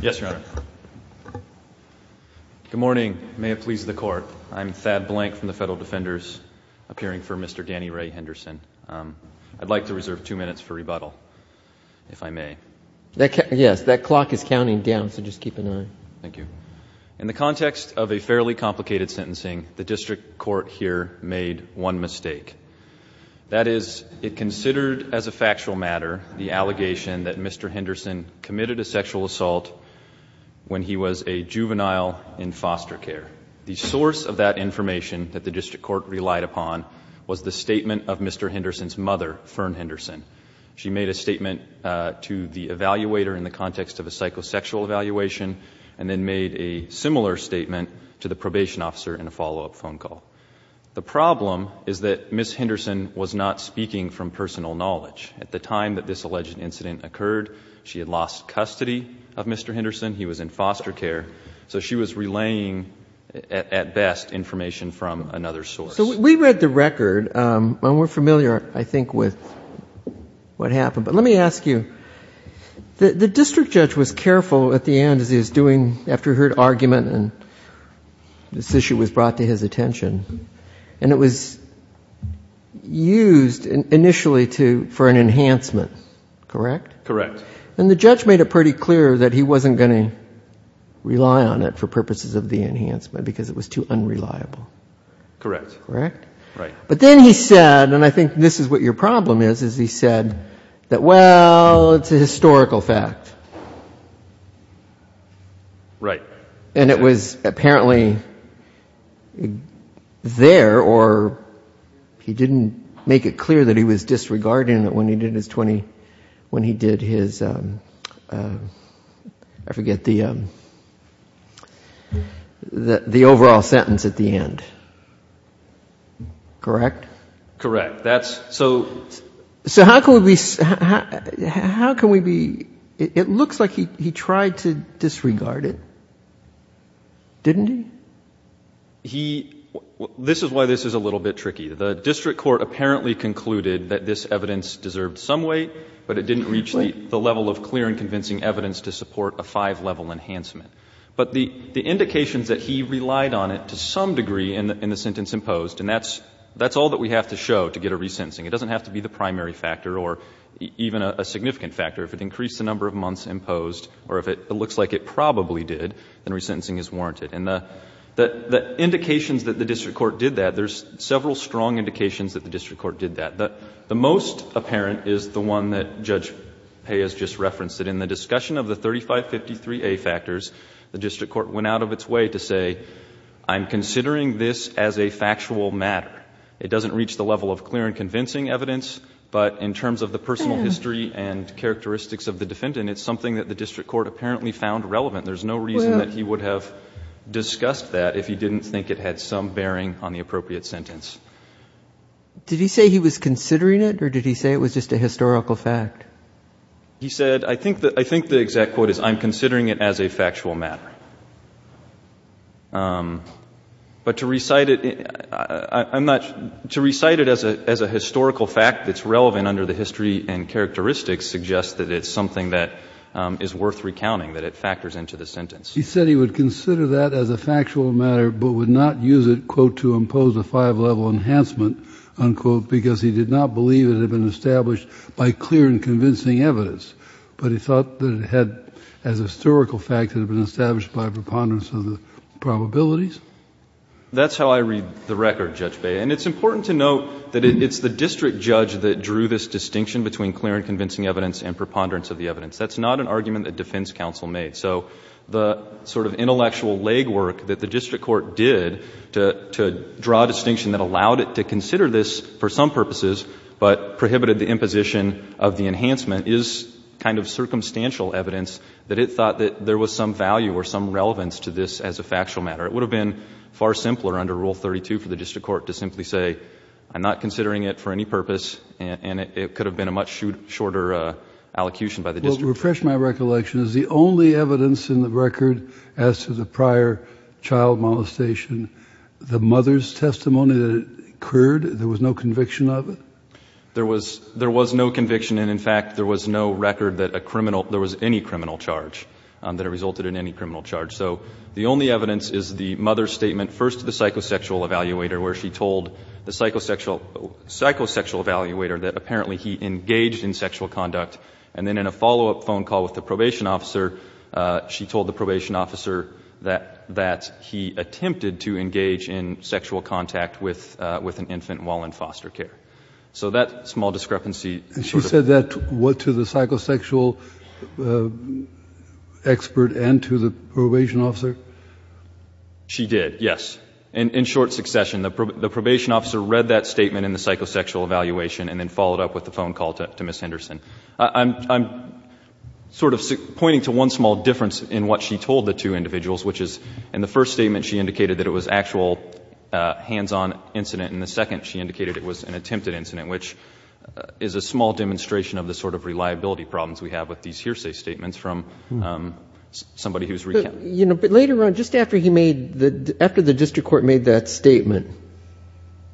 Yes, Your Honor. Good morning. May it please the Court. I'm Thad Blank from the Federal Defenders, appearing for Mr. Danny Ray Henderson. I'd like to reserve two minutes for rebuttal, if I may. Yes, that clock is counting down, so just keep an eye. Thank you. In the context of a fairly complicated sentencing, the District Court here made one mistake. That is, it considered as a factual matter the allegation that Mr. Henderson committed a sexual assault when he was a juvenile in foster care. The source of that information that the District Court relied upon was the statement of Mr. Henderson's mother, Fern Henderson. She made a statement to the evaluator in the context of a psychosexual evaluation and then made a similar statement to the probation officer in a follow-up phone call. The problem is that Ms. Henderson was not speaking from personal knowledge. At the time that this alleged incident occurred, she had lost custody of Mr. Henderson. He was in foster care. So she was relaying, at best, information from another source. So we read the record, and we're familiar, I think, with what happened. But let me ask you, the district judge was careful at the end as he was doing, after he heard argument and this issue was brought to his attention, and it was used initially for an enhancement, correct? Correct. And the judge made it pretty clear that he wasn't going to rely on it for purposes of the enhancement because it was too unreliable. Correct. Correct? Right. But then he said, and I think this is what your problem is, is he said that, well, it's a historical fact. Right. And it was apparently there, or he didn't make it clear that he was disregarding it when he did his 20, when he did his, I forget, the overall sentence at the end. Correct? Correct. So how can we be, it looks like he tried to disregard it, didn't he? He, this is why this is a little bit tricky. The district court apparently concluded that this evidence deserved some weight, but it didn't reach the level of clear and convincing evidence to support a five-level enhancement. But the indications that he relied on it to some degree in the sentence imposed, and that's all that we have to show to get a resentencing. It doesn't have to be the primary factor or even a significant factor. If it increased the number of months imposed or if it looks like it probably did, then resentencing is warranted. And the indications that the district court did that, there's several strong indications that the district court did that. The most apparent is the one that Judge Paye has just referenced, that in the discussion of the 3553A factors, the district court went out of its way to say, I'm considering this as a factual matter. It doesn't reach the level of clear and convincing evidence, but in terms of the personal history and characteristics of the defendant, it's something that the district court apparently found relevant. There's no reason that he would have discussed that if he didn't think it had some bearing on the appropriate sentence. Did he say he was considering it or did he say it was just a historical fact? He said, I think the exact quote is, I'm considering it as a factual matter. But to recite it, I'm not, to recite it as a historical fact that's relevant under the history and characteristics suggests that it's something that is worth recounting, that it factors into the sentence. He said he would consider that as a factual matter, but would not use it, quote, to impose a five-level enhancement, unquote, because he did not believe it had been established by clear and convincing evidence. But he thought that it had, as a historical fact, it had been established by a preponderance of the probabilities. That's how I read the record, Judge Beyer. And it's important to note that it's the district judge that drew this distinction between clear and convincing evidence and preponderance of the evidence. That's not an argument that defense counsel made. So the sort of intellectual legwork that the district court did to, to draw a distinction that allowed it to consider this for some purposes, but prohibited the imposition of the enhancement is kind of circumstantial evidence that it thought that there was some value or some relevance to this as a factual matter. It would have been far simpler under Rule 32 for the district court to simply say, I'm not considering it for any purpose. And it could have been a much shorter allocution by the district court. Well, to refresh my recollection, is the only evidence in the record as to the prior child molestation, the mother's testimony that occurred, there was no conviction of it? There was, there was no conviction. And in fact, there was no record that a criminal, there was any criminal charge that resulted in any criminal charge. So the only evidence is the mother's statement first to the psychosexual evaluator, where she told the psychosexual, psychosexual evaluator that apparently he engaged in sexual conduct. And then in a follow-up phone call with the probation officer, she told the probation officer that, that he attempted to engage in sexual contact with, with an infant while in foster care. So that small discrepancy. And she said that, what to the psychosexual expert and to the probation officer? She did. Yes. And in short succession, the probation officer read that statement in the psychosexual evaluation and then followed up with the phone call to Ms. Henderson. I'm sort of pointing to one small difference in what she told the two individuals, which is in the first statement, she indicated that it was actual hands-on incident. And the second, she indicated it was an attempted incident, which is a small demonstration of the sort of reliability problems we have with these hearsay statements from somebody who's recounted. You know, but later on, just after he made the, after the district court made that statement,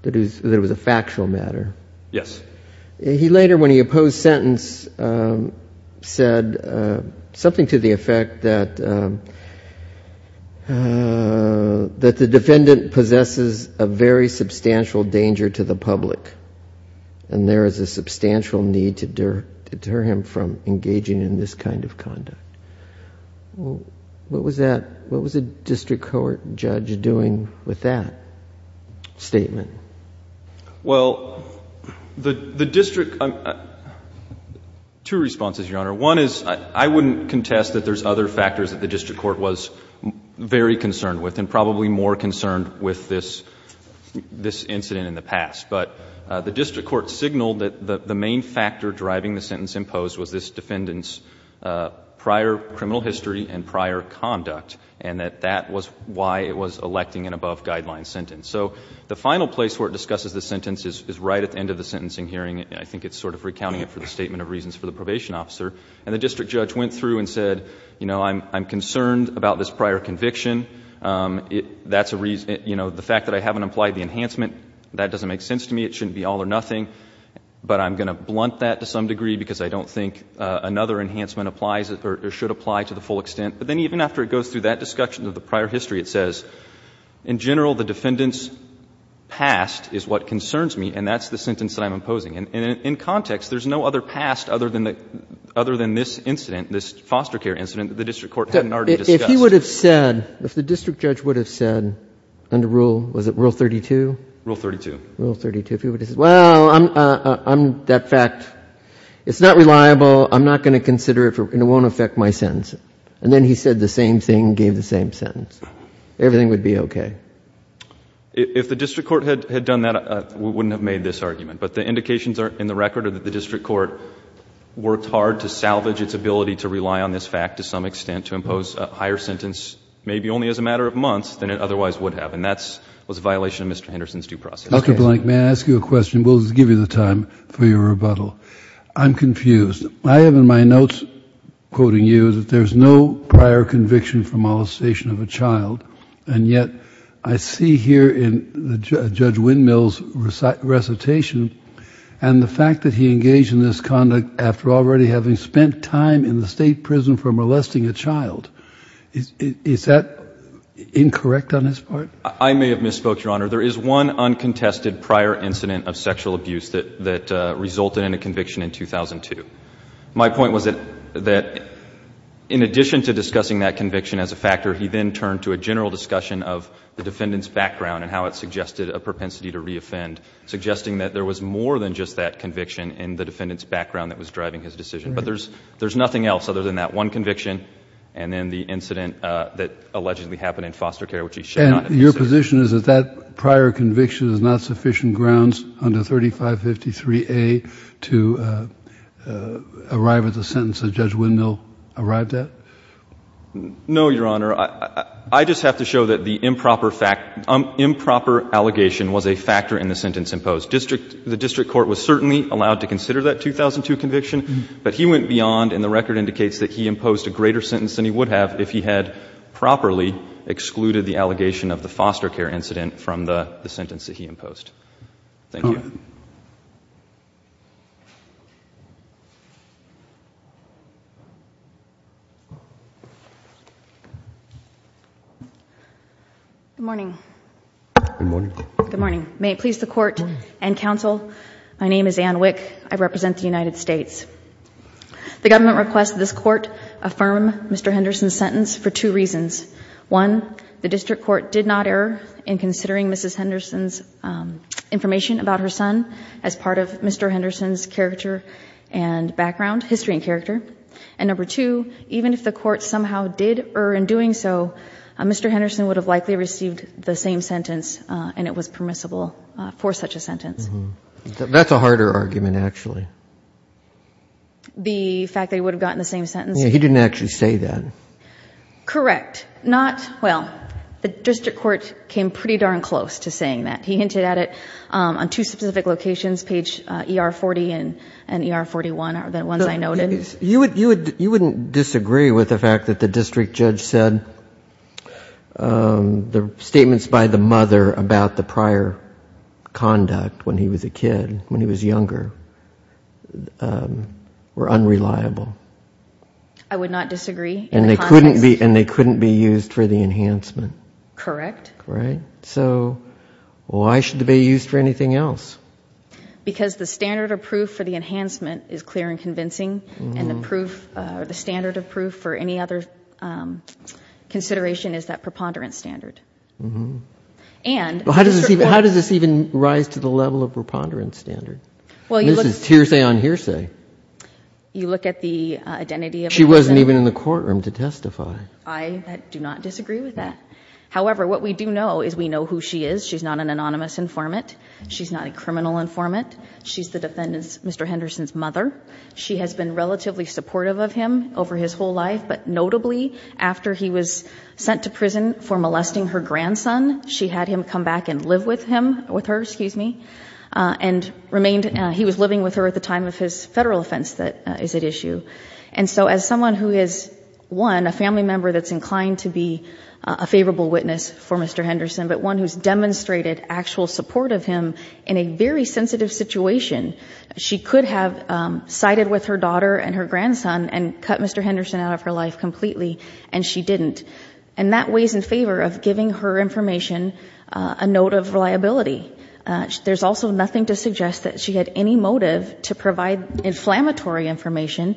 that it was a factual matter. Yes. He later, when he opposed sentence, said something to the effect that, that the defendant possesses a very substantial danger to the public. And there is a substantial need to deter him from engaging in this kind of conduct. What was that? What was the district court judge doing with that statement? Well, the district, two responses, Your Honor. One is, I wouldn't contest that there's other factors that the district court was very concerned with and probably more concerned with this, this incident in the past. But the district court signaled that the main factor driving the sentence imposed was this defendant's prior criminal history and prior conduct, and that that was why it was electing an above-guideline sentence. So the final place where it discusses the sentence is right at the end of the sentencing hearing. I think it's sort of recounting it for the statement of reasons for the probation officer. And the district judge went through and said, you know, I'm, I'm concerned about this prior conviction. That's a reason, you know, the fact that I haven't applied the enhancement, that doesn't make sense to me. It shouldn't be all or nothing. But I'm going to blunt that to some degree because I don't think another enhancement applies or should apply to the full extent. But then even after it goes through that discussion of the prior history, it says, in general, the defendant's past is what concerns me, and that's the sentence that I'm imposing. And in context, there's no other past other than the, other than this incident, this foster care incident, that the district court hadn't already discussed. If he would have said, if the district judge would have said under rule, was it rule 32? Rule 32. Rule 32. If he would have said, well, I'm, I'm, that fact, it's not reliable, I'm not going to consider it, and it won't affect my sentence. And then he said the same thing, gave the same sentence. Everything would be okay. If the district court had, had done that, we wouldn't have made this argument. But the indications are, in the record, are that the district court worked hard to salvage its ability to rely on this fact to some extent to impose a higher sentence maybe only as a matter of months than it otherwise would have. And that's, was a violation of Mr. Henderson's due process. Okay. Dr. Blank, may I ask you a question? We'll give you the time for your rebuttal. I'm confused. I have in my notes, quoting you, that there's no prior conviction for molestation of a child, and yet I see here in Judge Windmill's recitation, and the fact that he engaged in this conduct after already having spent time in the State prison for molesting a child. Is, is that incorrect on his part? I may have misspoke, Your Honor. There is one uncontested prior incident of sexual abuse that, that resulted in a conviction in 2002. My point was that, that in addition to discussing that conviction as a factor, he then turned to a general discussion of the defendant's background and how it suggested a propensity to reoffend, suggesting that there was more than just that conviction in the defendant's background that was driving his decision. Right. But there's, there's nothing else other than that one conviction and then the incident that allegedly happened in foster care, which he should not have said. And your position is that that prior conviction is not sufficient grounds under 3553A to arrive at the sentence that Judge Windmill arrived at? No, Your Honor. I, I just have to show that the improper fact, improper allegation was a factor in the sentence imposed. District, the district court was certainly allowed to consider that 2002 conviction, but he went beyond and the record indicates that he imposed a greater sentence than he would have if he had properly excluded the allegation of the foster care incident from the, the sentence that he imposed. Thank you. Good morning. Good morning. Good morning. May it please the court and counsel, my name is Anne Wick. I represent the United States. The government requests this court affirm Mr. Henderson's sentence for two reasons. One, the district court did not err in considering Mrs. Henderson's information about her son as part of Mr. Henderson's character and background, history and character. And number two, even if the court somehow did err in doing so, Mr. Henderson would have likely received the same sentence and it was permissible for such a sentence. That's a harder argument actually. The fact that he would have gotten the same sentence? Yeah, he didn't actually say that. Correct. Not, well, the district court came pretty darn close to saying that. He hinted at it on two specific locations, page ER-40 and ER-41 are the ones I noted. You wouldn't disagree with the fact that the district judge said the statements by the mother about the prior conduct when he was a kid, when he was younger, were unreliable. I would not disagree. And they couldn't be used for the enhancement. Correct. Right? So why should they be used for anything else? Because the standard of proof for the enhancement is clear and convincing, and the standard of proof for any other consideration is that preponderance standard. How does this even rise to the level of preponderance standard? This is hearsay on hearsay. You look at the identity of the person. She wasn't even in the courtroom to testify. I do not disagree with that. However, what we do know is we know who she is. She's not an anonymous informant. She's not a criminal informant. She's the defendant's, Mr. Henderson's, mother. She has been relatively supportive of him over his whole life, but notably after he was sent to prison for molesting her grandson, she had him come back and live with him, with her, excuse me, and remained, he was living with her at the time of his Federal offense that is at issue. And so as someone who is, one, a family member that's inclined to be a favorable witness for Mr. Henderson, but one who's demonstrated actual support of him in a very sensitive situation, she could have sided with her daughter and her grandson and cut Mr. Henderson out of her life completely, and she didn't. And that weighs in favor of giving her information a note of reliability. There's also nothing to suggest that she had any motive to provide inflammatory information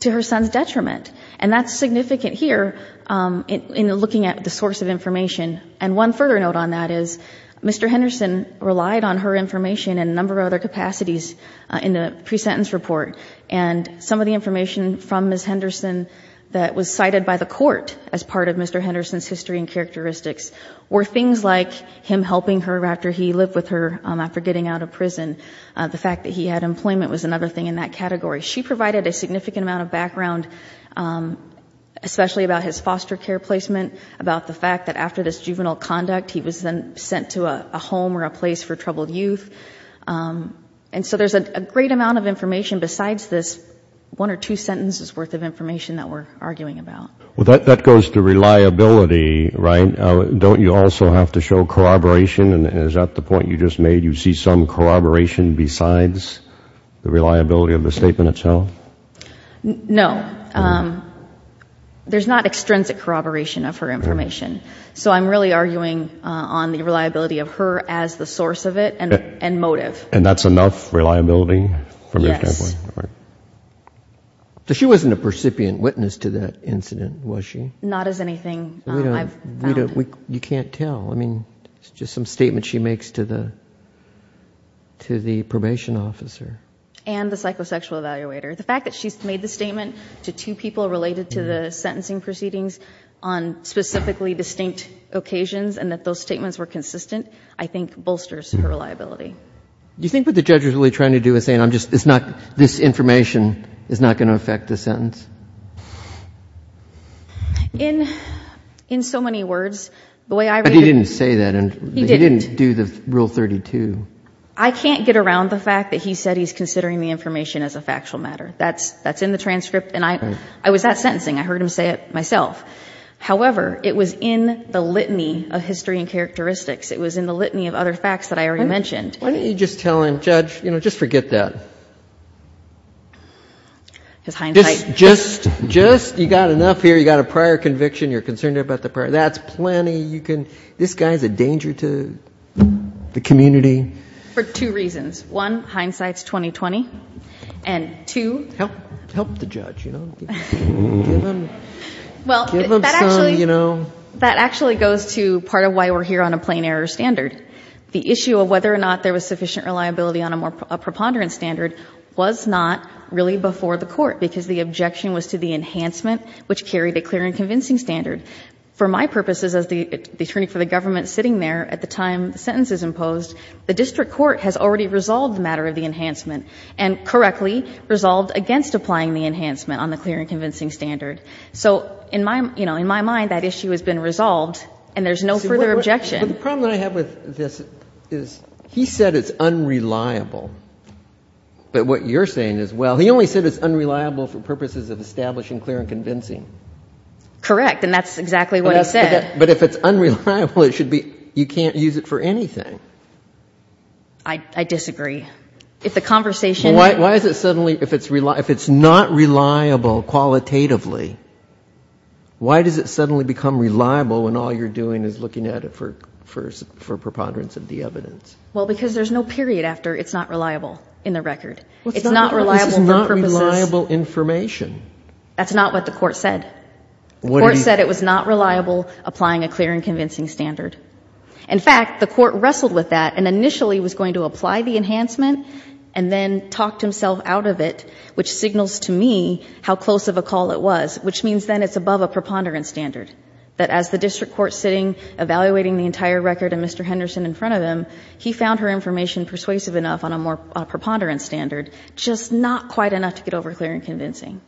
to her son's detriment. And that's significant here in looking at the source of information. And one further note on that is Mr. Henderson relied on her information in a number of other capacities in the pre-sentence report. And some of the information from Ms. Henderson that was cited by the court as part of Mr. Henderson's history and characteristics were things like him helping her after he lived with her after getting out of prison. The fact that he had employment was another thing in that category. She provided a significant amount of background, especially about his foster care placement, about the fact that after this juvenile conduct, he was then sent to a home or a place for troubled youth. And so there's a great amount of information besides this one or two sentences worth of information that we're arguing about. Well, that goes to reliability, right? Don't you also have to show corroboration? And is that the point you just made? You see some corroboration besides the reliability of the statement itself? No. There's not extrinsic corroboration of her information. So I'm really arguing on the reliability of her as the source of it and motive. And that's enough reliability from your standpoint? Yes. So she wasn't a percipient witness to that incident, was she? Not as anything I've found. You can't tell. I mean, it's just some statement she makes to the probation officer. And the psychosexual evaluator. The fact that she's made the statement to two people related to the sentencing proceedings on specifically distinct occasions and that those statements were consistent, I think bolsters her reliability. Do you think what the judge is really trying to do is saying, this information is not going to affect the sentence? In so many words, the way I read it. But he didn't say that. He didn't. He didn't do the Rule 32. I can't get around the fact that he said he's considering the information as a factual matter. That's in the transcript. And I was at sentencing. I heard him say it myself. However, it was in the litany of history and characteristics. It was in the litany of other facts that I already mentioned. Why don't you just tell him, judge, just forget that. Just you've got enough here. You've got a prior conviction. You're concerned about the prior. That's plenty. This guy is a danger to the community. For two reasons. One, hindsight is 20-20. And two. Help the judge. Give him some, you know. That actually goes to part of why we're here on a plain error standard. The issue of whether or not there was sufficient reliability on a preponderance standard was not really before the court. Because the objection was to the enhancement, which carried a clear and convincing standard. For my purposes, as the attorney for the government sitting there at the time the sentence is imposed, the district court has already resolved the matter of the enhancement. And correctly, resolved against applying the enhancement on the clear and convincing standard. So, in my mind, that issue has been resolved. And there's no further objection. But the problem that I have with this is he said it's unreliable. But what you're saying is, well, he only said it's unreliable for purposes of establishing clear and convincing. Correct. And that's exactly what he said. But if it's unreliable, it should be, you can't use it for anything. I disagree. If the conversation. Why is it suddenly, if it's not reliable qualitatively, why does it suddenly become reliable when all you're doing is looking at it for preponderance of the evidence? Well, because there's no period after it's not reliable in the record. It's not reliable for purposes. This is not reliable information. That's not what the court said. The court said it was not reliable applying a clear and convincing standard. In fact, the court wrestled with that and initially was going to apply the enhancement and then talked himself out of it, which signals to me how close of a call it was. Which means then it's above a preponderance standard. That as the district court sitting, evaluating the entire record and Mr. Henderson in front of him, he found her information persuasive enough on a more preponderance standard, just not quite enough to get over clear and convincing.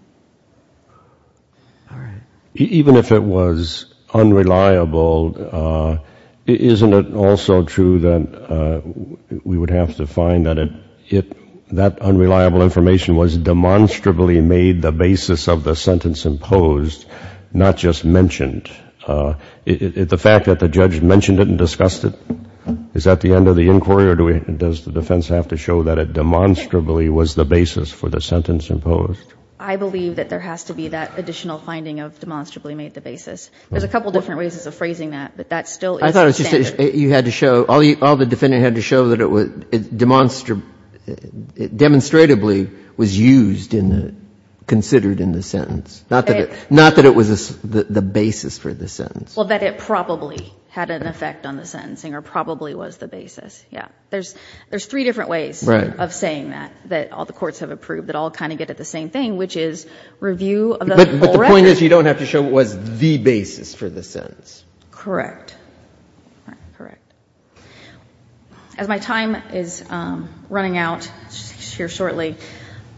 All right. Even if it was unreliable, isn't it also true that we would have to find that unreliable information was demonstrably made the basis of the sentence imposed, not just mentioned? The fact that the judge mentioned it and discussed it? Is that the end of the inquiry or does the defense have to show that it demonstrably was the basis for the sentence imposed? I believe that there has to be that additional finding of demonstrably made the basis. There's a couple different ways of phrasing that, but that still is a standard. I thought you had to show, all the defendant had to show that it was demonstrably was used in the, considered in the sentence. Not that it was the basis for the sentence. Well, that it probably had an effect on the sentencing or probably was the basis. Yeah. There's three different ways of saying that, that all the courts have approved, that all kind of get at the same thing, which is review of the whole record. But the point is you don't have to show what was the basis for the sentence. Correct. All right. Correct. As my time is running out shortly,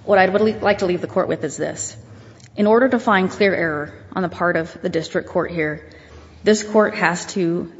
what I'd like to leave the court with is this. In order to find clear error on the part of the district court here, this court has to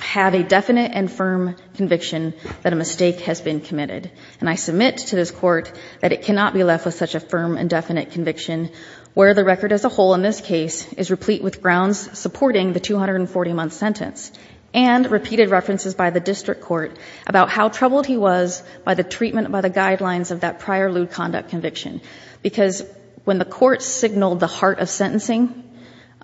have a definite and firm conviction that a mistake has been committed. And I submit to this court that it cannot be left with such a firm and definite conviction where the record as a whole in this case is replete with grounds supporting the 240-month sentence and repeated references by the district court about how troubled he was by the treatment, by the guidelines of that prior lewd conduct conviction. Because when the court signaled the heart of sentencing,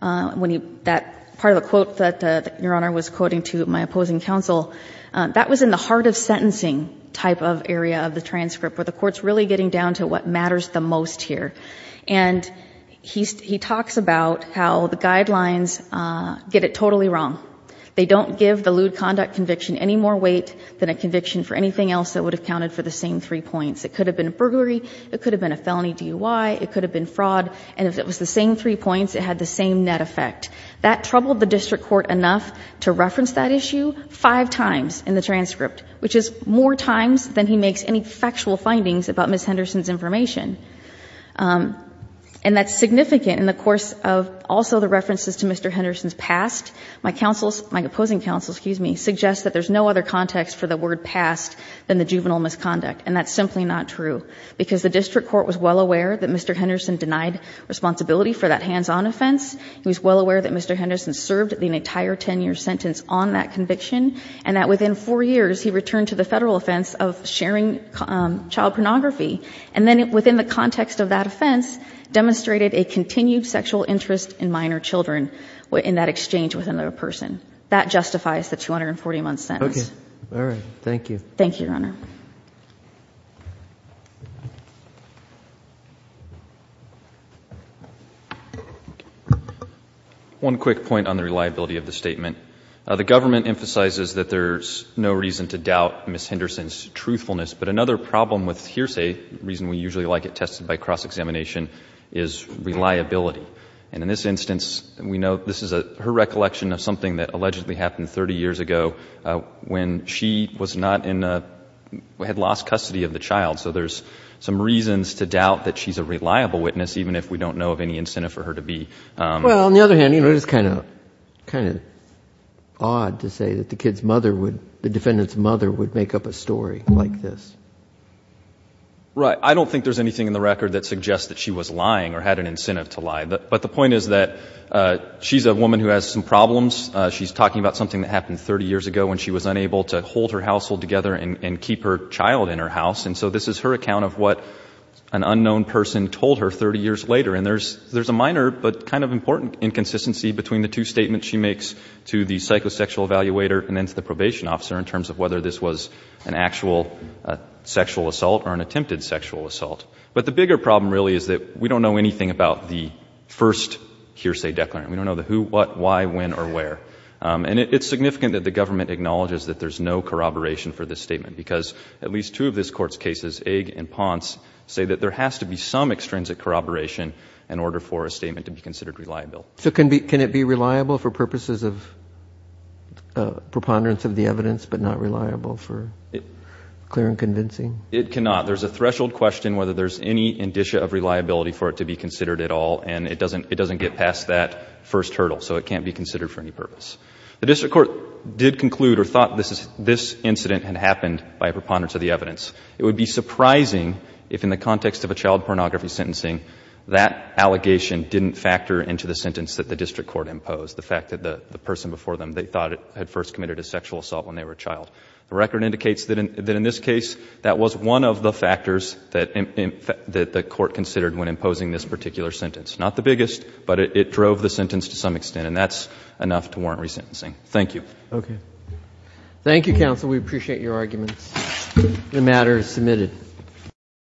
that part of the quote that Your Honor was quoting to my opposing counsel, that was in the heart of sentencing type of area of the transcript where the court's really getting down to what matters the most here. And he talks about how the guidelines get it totally wrong. They don't give the lewd conduct conviction any more weight than a conviction for anything else that would have counted for the same three points. It could have been a burglary. It could have been a felony DUI. It could have been fraud. And if it was the same three points, it had the same net effect. That troubled the district court enough to reference that issue five times in the transcript, which is more times than he makes any factual findings about Ms. Henderson's information. And that's significant in the course of also the references to Mr. Henderson's past. My counsel's, my opposing counsel, excuse me, suggests that there's no other context for the word past than the juvenile misconduct. And that's simply not true. Because the district court was well aware that Mr. Henderson denied responsibility for that hands-on offense. He was well aware that Mr. Henderson served an entire ten-year sentence on that conviction. And that within four years, he returned to the Federal offense of sharing child pornography. And then within the context of that offense, demonstrated a continued sexual interest in minor children in that exchange with another person. That justifies the 240-month sentence. Okay. All right. Thank you. Thank you, Your Honor. One quick point on the reliability of the statement. The government emphasizes that there's no reason to doubt Ms. Henderson's truthfulness. But another problem with hearsay, a reason we usually like it tested by cross-examination, is reliability. And in this instance, we know this is her recollection of something that allegedly happened 30 years ago when she was not in a, had lost custody of the child. So there's some reasons to doubt that she's a reliable witness, even if we don't know of any incentive for her to be. Well, on the other hand, you know, it's kind of odd to say that the kid's mother would, the defendant's mother would make up a story like this. Right. I don't think there's anything in the record that suggests that she was lying or had an incentive to lie. But the point is that she's a woman who has some problems. She's talking about something that happened 30 years ago when she was unable to hold her household together and keep her child in her house. And so this is her account of what an unknown person told her 30 years later. And there's a minor but kind of important inconsistency between the two statements she makes to the psychosexual evaluator and then to the probation officer in terms of whether this was an actual sexual assault or an attempted sexual assault. But the bigger problem really is that we don't know anything about the first hearsay declarant. We don't know the who, what, why, when, or where. And it's significant that the government acknowledges that there's no corroboration for this statement, because at least two of this Court's cases, Egg and Ponce, say that there has to be some extrinsic corroboration in order for a statement to be considered reliable. So can it be reliable for purposes of preponderance of the evidence but not reliable for clear and convincing? It cannot. There's a threshold question whether there's any indicia of reliability for it to be considered at all. And it doesn't get past that first hurdle. So it can't be considered for any purpose. The district court did conclude or thought this incident had happened by preponderance of the evidence. It would be surprising if in the context of a child pornography sentencing, that allegation didn't factor into the sentence that the district court imposed, the fact that the person before them, they thought had first committed a sexual assault when they were a child. The record indicates that in this case, that was one of the factors that the court considered when imposing this particular sentence. Not the biggest, but it drove the sentence to some extent. And that's enough to warrant resentencing. Thank you. Okay. Thank you, counsel. We appreciate your arguments. The matter is submitted.